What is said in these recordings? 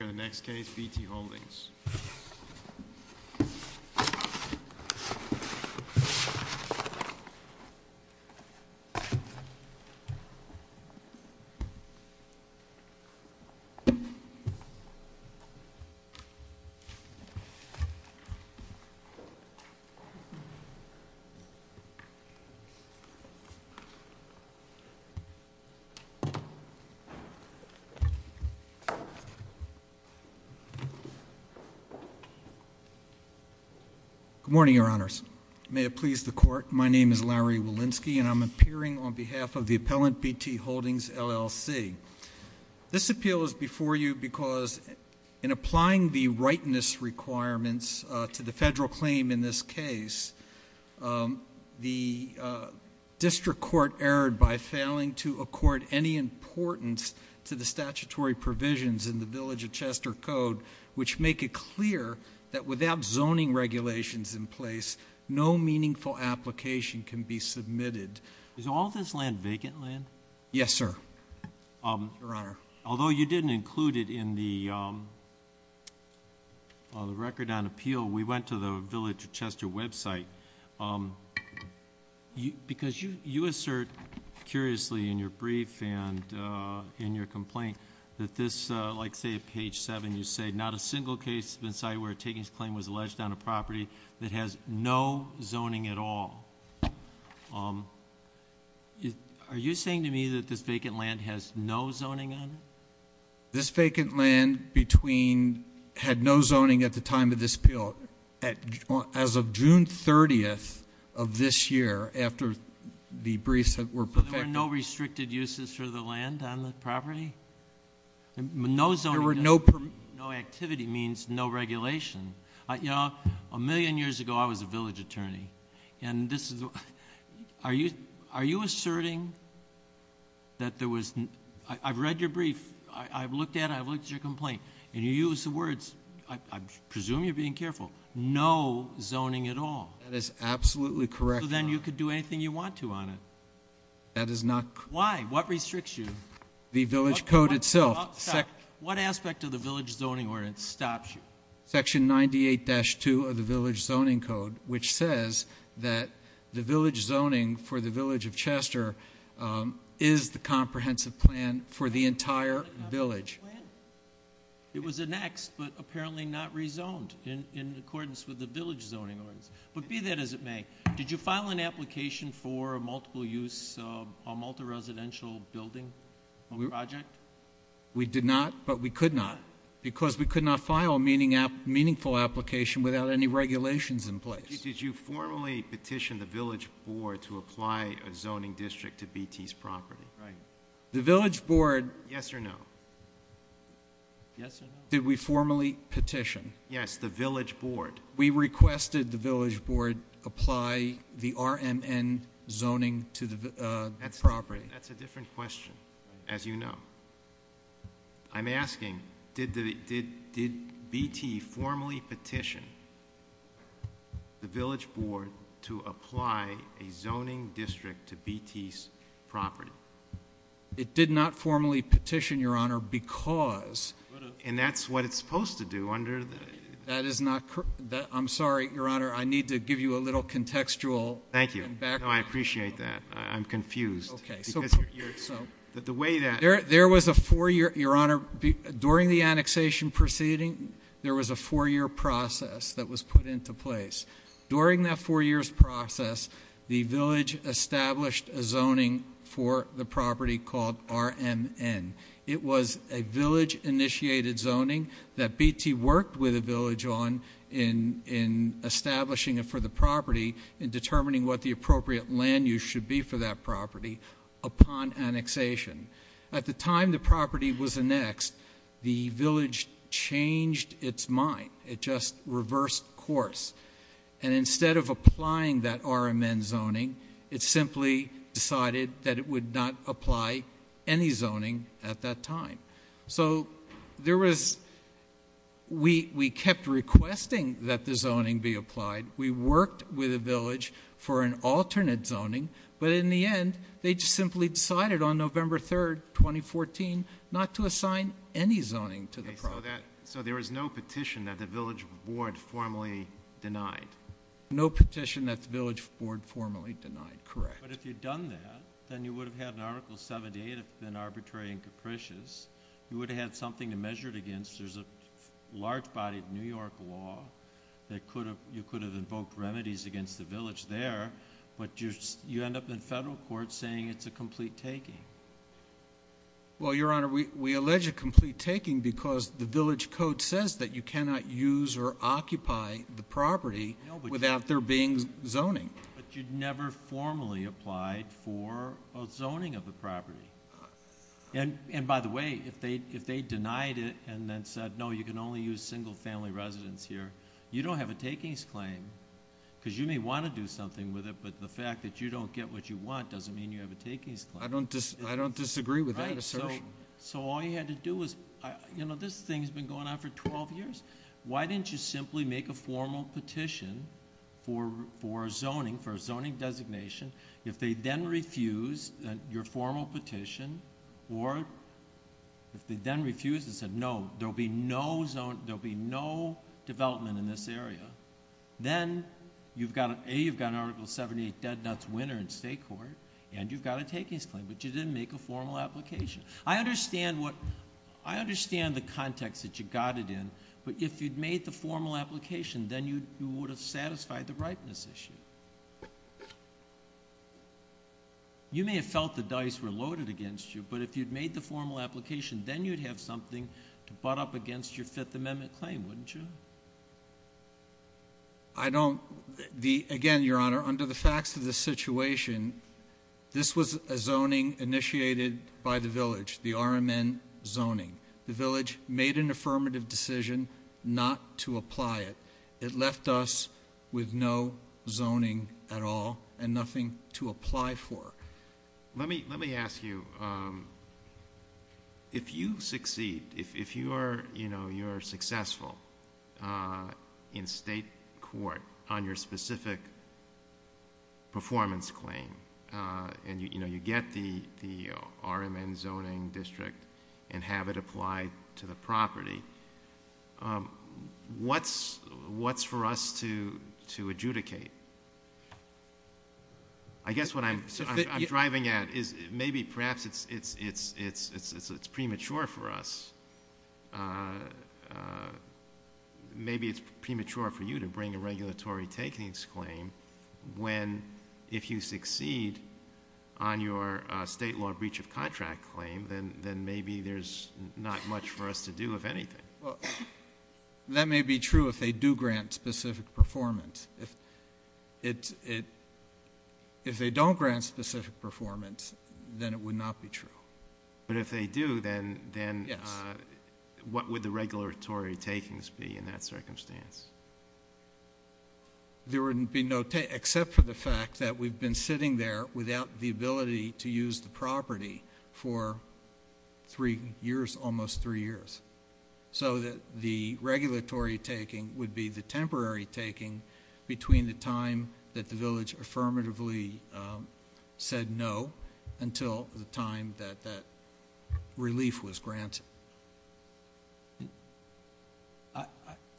The Upper East Side High School, BW. Good morning, Your Honors. May it please the court, my name is Larry Walensky and I'm appearing on behalf of the appellant, B.T. Holdings, LLC. This appeal is before you because in applying the rightness requirements to the federal claim in this case, the district court erred by failing to accord any importance to the Chester Code, which make it clear that without zoning regulations in place, no meaningful application can be submitted. Is all this land vacant land? Yes, sir. Your Honor. Although you didn't include it in the record on appeal, we went to the Village of Chester website because you assert curiously in your brief and in your complaint that this, like I say at page 7, you say not a single case has been cited where a takings claim was alleged on a property that has no zoning at all. Are you saying to me that this vacant land has no zoning on it? This vacant land between, had no zoning at the time of this appeal as of June 30th of this year after the briefs that were perfected. So there were no restricted uses for the land on the property? No zoning. There were no... No activity means no regulation. You know, a million years ago I was a village attorney and this is, are you, are you asserting that there was, I've read your brief, I've looked at it, I've looked at your complaint and you use the words, I presume you're being careful, no zoning at all. That is absolutely correct, Your Honor. So then you could do anything you want to on it. That is not... Why? Why? What restricts you? The village code itself. What aspect of the village zoning ordinance stops you? Section 98-2 of the village zoning code, which says that the village zoning for the village of Chester is the comprehensive plan for the entire village. It was annexed, but apparently not rezoned in accordance with the village zoning ordinance. But be that as it may. Did you file an application for a multiple use, a multi-residential building project? We did not, but we could not because we could not file a meaningful application without any regulations in place. Did you formally petition the village board to apply a zoning district to BT's property? The village board... Yes or no? Did we formally petition? Yes. The village board. We requested the village board apply the RMN zoning to the property. That's a different question, as you know. I'm asking, did BT formally petition the village board to apply a zoning district to BT's property? It did not formally petition, Your Honor, because... And that's what it's supposed to do under the... That is not... I'm sorry, Your Honor, I need to give you a little contextual background. Thank you. No, I appreciate that. I'm confused. Okay. So... The way that... There was a four-year... Your Honor, during the annexation proceeding, there was a four-year process that was put into place. During that four years process, the village established a zoning for the property called RMN. It was a village-initiated zoning that BT worked with the village on in establishing it for the property and determining what the appropriate land use should be for that property upon annexation. At the time the property was annexed, the village changed its mind. It just reversed course. And instead of applying that RMN zoning, it simply decided that it would not apply any zoning at that time. So there was... We kept requesting that the zoning be applied. We worked with the village for an alternate zoning, but in the end, they just simply decided on November 3rd, 2014, not to assign any zoning to the property. So there was no petition that the village board formally denied? No petition that the village board formally denied, correct. But if you'd done that, then you would have had an Article 78 if it had been arbitrary and capricious. You would have had something to measure it against. There's a large-bodied New York law that you could have invoked remedies against the village there, but you end up in federal court saying it's a complete taking. Well, Your Honor, we allege a complete taking because the village code says that you cannot use or occupy the property without there being zoning. But you'd never formally applied for a zoning of the property. And by the way, if they denied it and then said, no, you can only use single-family residence here, you don't have a takings claim because you may want to do something with it, but the fact that you don't get what you want doesn't mean you have a takings claim. I don't disagree with that assertion. So all you had to do was... This thing's been going on for 12 years. Why didn't you simply make a formal petition for zoning, for a zoning designation? If they then refused your formal petition or if they then refused and said, no, there'll be no development in this area, then A, you've got an Article 78 dead nuts winner in state court and you've got a takings claim, but you didn't make a formal application. I understand what... I understand the context that you got it in, but if you'd made the formal application, then you would have satisfied the ripeness issue. You may have felt the dice were loaded against you, but if you'd made the formal application, then you'd have something to butt up against your Fifth Amendment claim, wouldn't you? I don't... Again, Your Honor, under the facts of the situation, this was a zoning initiated by the village, the RMN zoning. The village made an affirmative decision not to apply it. It left us with no zoning at all and nothing to apply for. Let me ask you, if you succeed, if you are successful in state court on your specific performance claim and you get the RMN zoning district and have it applied to the property, what's for us to adjudicate? I guess what I'm driving at is maybe perhaps it's premature for us. Maybe it's premature for you to bring a regulatory takings claim when, if you succeed on your state law breach of contract claim, then maybe there's not much for us to do, if anything. That may be true if they do grant specific performance. If they don't grant specific performance, then it would not be true. If they do, then what would the regulatory takings be in that circumstance? There would be no take except for the fact that we've been sitting there without the ability to use the property for three years, almost three years. The regulatory taking would be the temporary taking between the time that the village affirmatively said no until the time that that relief was granted.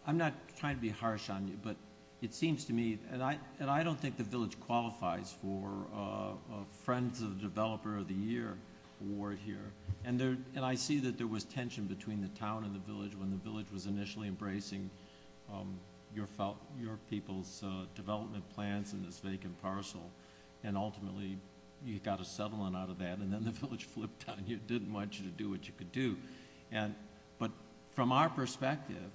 I'm not trying to be harsh on you, but it seems to me, and I don't think the village qualifies for a friends of the developer of the year award here. I see that there was tension between the town and the village when the village was initially you got a settlement out of that, and then the village flipped on you, didn't want you to do what you could do. From our perspective,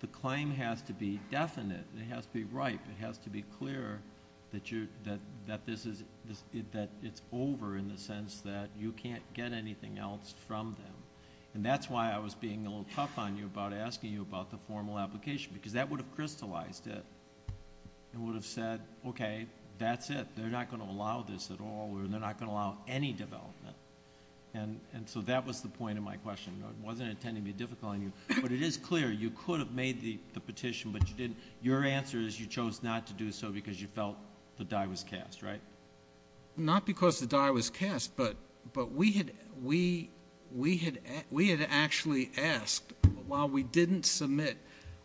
the claim has to be definite, it has to be ripe, it has to be clear that it's over in the sense that you can't get anything else from them. That's why I was being a little tough on you about asking you about the formal application, because that would have crystallized it. It would have said, okay, that's it. They're not going to allow this at all, or they're not going to allow any development. That was the point of my question. I wasn't intending to be difficult on you, but it is clear you could have made the petition, but your answer is you chose not to do so because you felt the die was cast, right? Not because the die was cast, but we had actually asked, while we didn't submit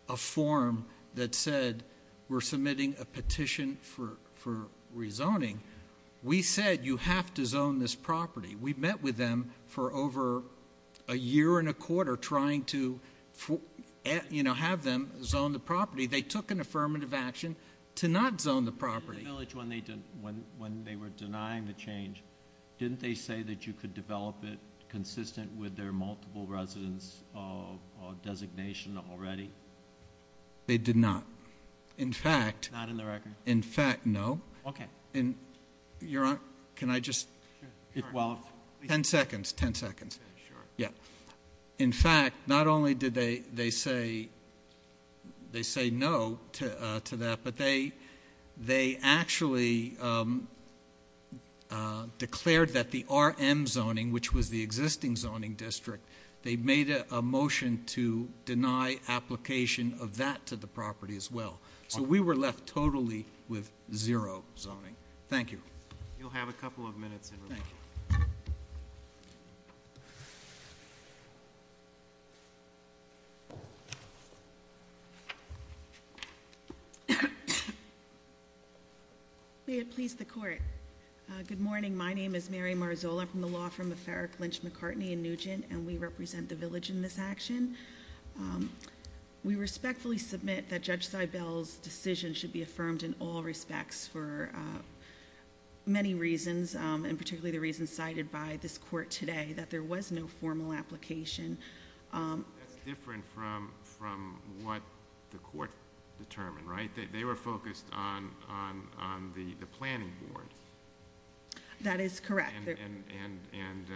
a form that We said you have to zone this property. We met with them for over a year and a quarter trying to have them zone the property. They took an affirmative action to not zone the property. In the village, when they were denying the change, didn't they say that you could develop it consistent with their multiple residence designation already? They did not. Not in the record? In fact, no. Okay. Your Honor, can I just... Sure. Well... Ten seconds. Ten seconds. Okay, sure. Yeah. In fact, not only did they say no to that, but they actually declared that the RM zoning, which was the existing zoning district, they made a motion to deny application of that to the property as well. We were left totally with zero zoning. Thank you. You'll have a couple of minutes in rebuttal. May it please the court, good morning. My name is Mary Marzola. I'm from the law firm of Farrick, Lynch, McCartney, and Nugent, and we represent the village in this action. We respectfully submit that Judge Seibel's decision should be affirmed in all respects for many reasons, and particularly the reasons cited by this court today, that there was no formal application. That's different from what the court determined, right? They were focused on the planning board. That is correct. And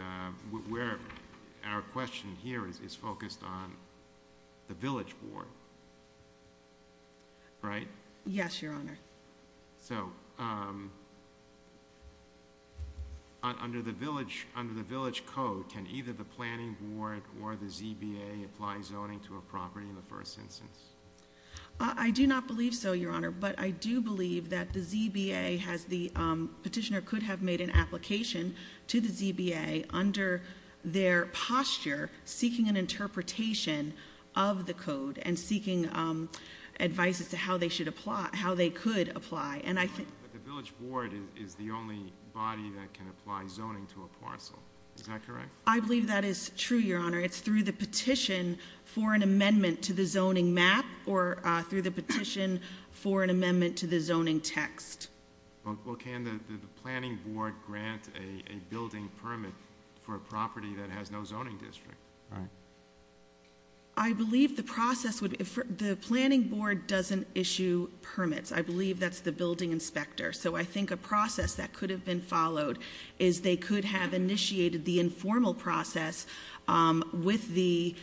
our question here is focused on the village board, right? Yes, Your Honor. So under the village code, can either the planning board or the ZBA apply zoning to a property in the first instance? I do not believe so, Your Honor, but I do believe that the ZBA has the petitioner could have made an application to the ZBA under their posture, seeking an interpretation of the code and seeking advice as to how they should apply, how they could apply, and I think... But the village board is the only body that can apply zoning to a parcel, is that correct? I believe that is true, Your Honor. It's through the petition for an amendment to the zoning map or through the petition for an amendment to the zoning text. Well, can the planning board grant a building permit for a property that has no zoning district? I believe the process would... The planning board doesn't issue permits. I believe that's the building inspector. So I think a process that could have been followed is they could have initiated the informal process with the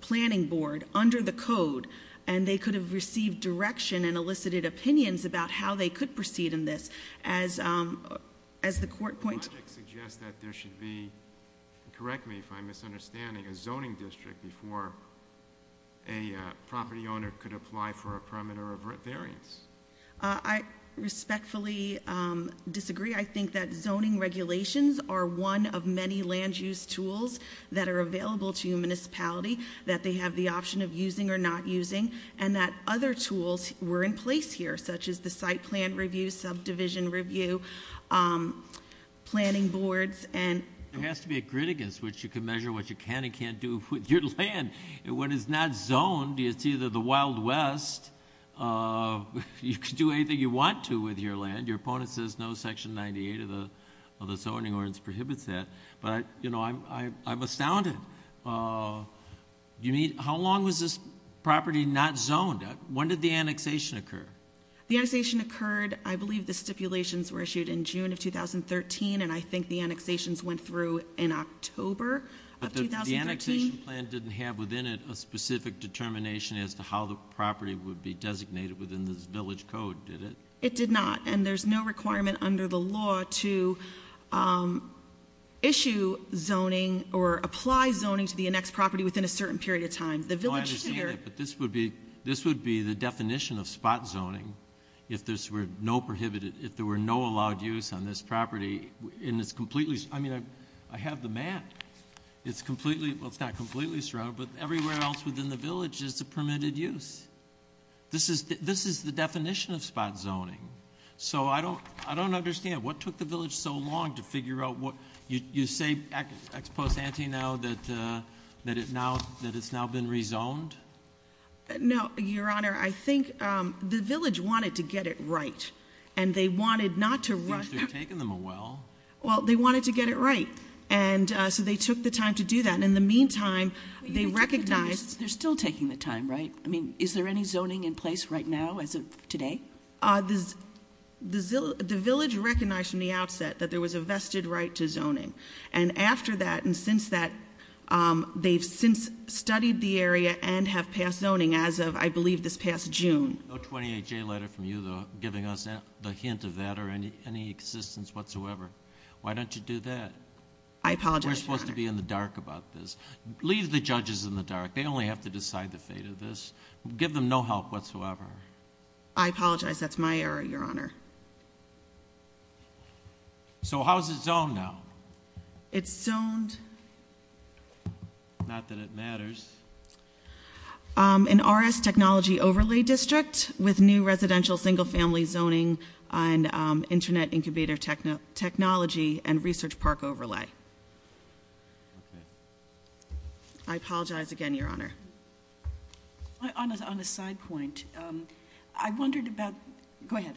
planning board under the code, and they could have received direction and elicited opinions about how they could proceed in this. As the court points... The logic suggests that there should be, correct me if I'm misunderstanding, a zoning district before a property owner could apply for a permit or a variance. I respectfully disagree. I think that zoning regulations are one of many land use tools that are available to in place here, such as the site plan review, subdivision review, planning boards, and... There has to be a grittiness, which you can measure what you can and can't do with your land. When it's not zoned, it's either the Wild West, you can do anything you want to with your land. Your opponent says no, Section 98 of the Zoning Ordinance prohibits that, but I'm astounded. How long was this property not zoned? When did the annexation occur? The annexation occurred, I believe the stipulations were issued in June of 2013, and I think the annexations went through in October of 2013. The annexation plan didn't have within it a specific determination as to how the property would be designated within this village code, did it? It did not, and there's no requirement under the law to issue zoning or apply zoning to the annexed property within a certain period of time. I understand that, but this would be the definition of spot zoning if there were no allowed use on this property, and it's completely... I have the map. It's completely... Well, it's not completely surrounded, but everywhere else within the village is a permitted use. This is the definition of spot zoning. So I don't understand. What took the village so long to figure out what... You say ex post ante now that it's now been rezoned? No, Your Honor. I think the village wanted to get it right, and they wanted not to run... I think they've taken them a while. Well, they wanted to get it right, and so they took the time to do that. In the meantime, they recognized... They're still taking the time, right? I mean, is there any zoning in place right now as of today? I think the village recognized from the outset that there was a vested right to zoning, and after that and since that, they've since studied the area and have passed zoning as of, I believe, this past June. No 28J letter from you giving us the hint of that or any assistance whatsoever. Why don't you do that? I apologize, Your Honor. We're supposed to be in the dark about this. Leave the judges in the dark. They only have to decide the fate of this. Give them no help whatsoever. I apologize. That's my error, Your Honor. So how is it zoned now? It's zoned... Not that it matters. An RS technology overlay district with new residential single family zoning and internet incubator technology and research park overlay. I apologize again, Your Honor. On a side point, I wondered about... Go ahead.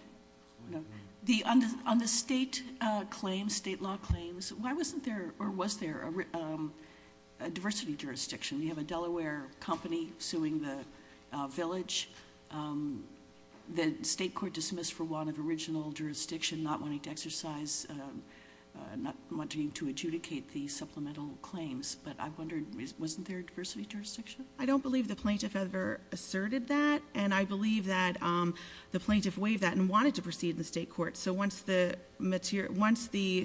On the state claims, state law claims, why wasn't there or was there a diversity jurisdiction? You have a Delaware company suing the village. The state court dismissed for want of original jurisdiction, not wanting to exercise, not wanting to adjudicate the supplemental claims, but I wondered, wasn't there a diversity jurisdiction? I don't believe the plaintiff ever asserted that, and I believe that the plaintiff waived that and wanted to proceed in the state court. So once the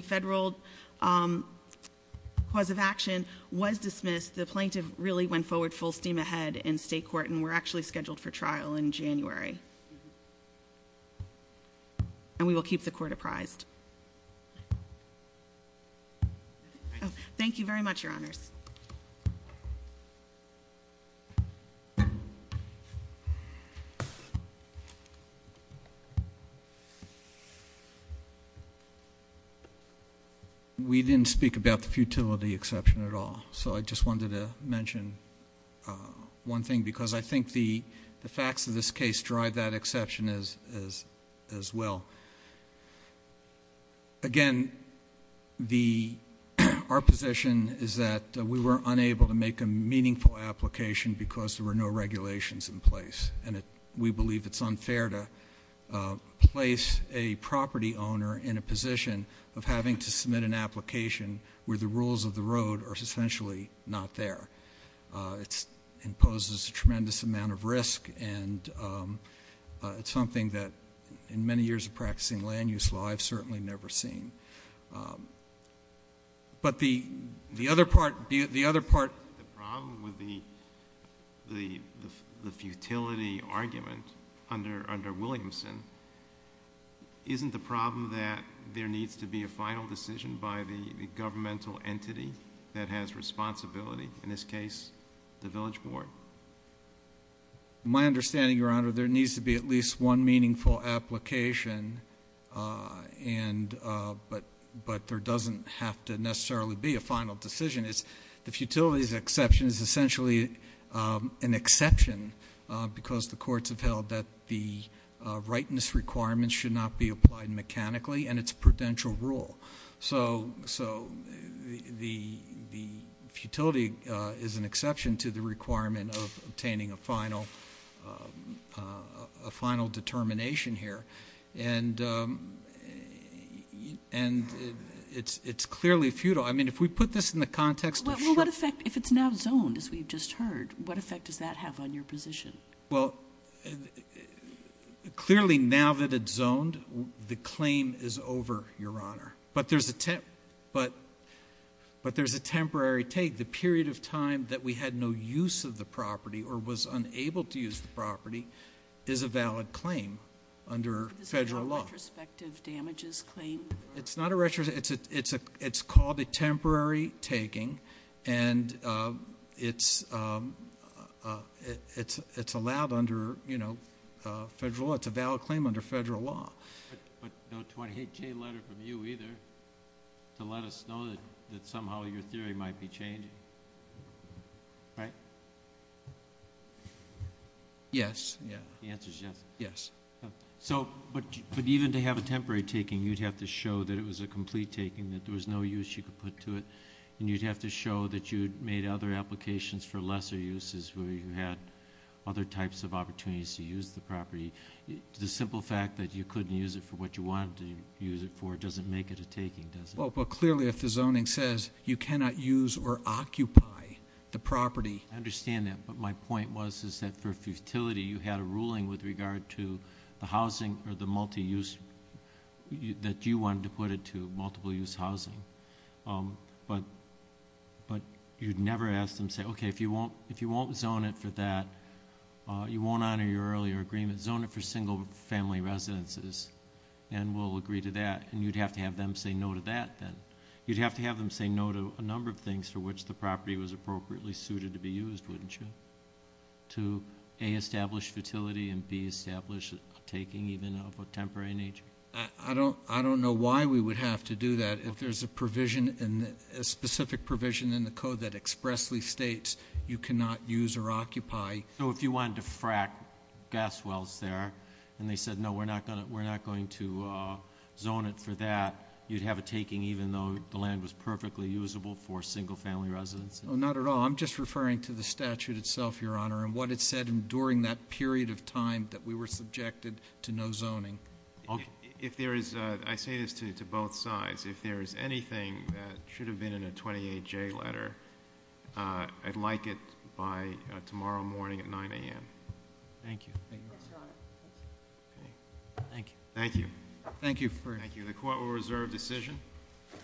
federal cause of action was dismissed, the plaintiff really went forward full steam ahead in state court, and we're actually scheduled for trial in January, and we will keep the court apprised. Thank you very much, Your Honors. We didn't speak about the futility exception at all. So I just wanted to mention one thing because I think the facts of this case drive that Again, our position is that we were unable to make a meaningful application because there were no regulations in place, and we believe it's unfair to place a property owner in a position of having to submit an application where the rules of the road are essentially not there. It imposes a tremendous amount of risk, and it's something that in many years of practicing land use law, I've certainly never seen. But the other part The problem with the futility argument under Williamson isn't the problem that there needs to be a final decision by the governmental entity that has responsibility, in this case, the village board. My understanding, Your Honor, there needs to be at least one meaningful application, but there doesn't have to necessarily be a final decision. The futility exception is essentially an exception because the courts have held that the rightness requirements should not be applied mechanically, and it's a prudential rule. So the futility is an exception to the requirement of obtaining a final determination here, and it's clearly futile. I mean, if we put this in the context of- Well, what effect, if it's now zoned, as we've just heard, what effect does that have on your position? Well, clearly now that it's zoned, the claim is over, Your Honor. But there's a temporary take. The period of time that we had no use of the property or was unable to use the property is a valid claim under federal law. Is it a retrospective damages claim? It's not a retrospective. It's called a temporary taking, and it's allowed under federal law. It's a valid claim under federal law. But no 28-K letter from you either to let us know that somehow your theory might be changing, right? Yes. Yeah. The answer's yes. Yes. So, but even to have a temporary taking, you'd have to show that it was a complete taking, that there was no use you could put to it, and you'd have to show that you'd made other applications for lesser uses where you had other types of opportunities to use the property. The simple fact that you couldn't use it for what you wanted to use it for doesn't make it a taking, does it? Well, but clearly if the zoning says you cannot use or occupy the property- I understand that, but my point was is that for futility, you had a ruling with regard to the housing or the multi-use that you wanted to put it to, multiple-use housing. But you'd never ask them, say, okay, if you won't zone it for that, you won't honor your earlier agreement. Zone it for single-family residences, and we'll agree to that. And you'd have to have them say no to that then. You'd have to have them say no to a number of things for which the property was appropriately suited to be used, wouldn't you? To A, establish futility, and B, establish a taking even of a temporary nature. I don't know why we would have to do that if there's a specific provision in the code that expressly states you cannot use or occupy- So if you wanted to frack gas wells there, and they said no, we're not going to zone it for that, you'd have a taking even though the land was perfectly usable for single-family residences? Not at all. No, I'm just referring to the statute itself, Your Honor, and what it said during that period of time that we were subjected to no zoning. If there is, I say this to both sides, if there is anything that should have been in a 28J letter, I'd like it by tomorrow morning at 9 a.m. Thank you. Yes, Your Honor. Okay. Thank you. Thank you. Thank you for- Thank you.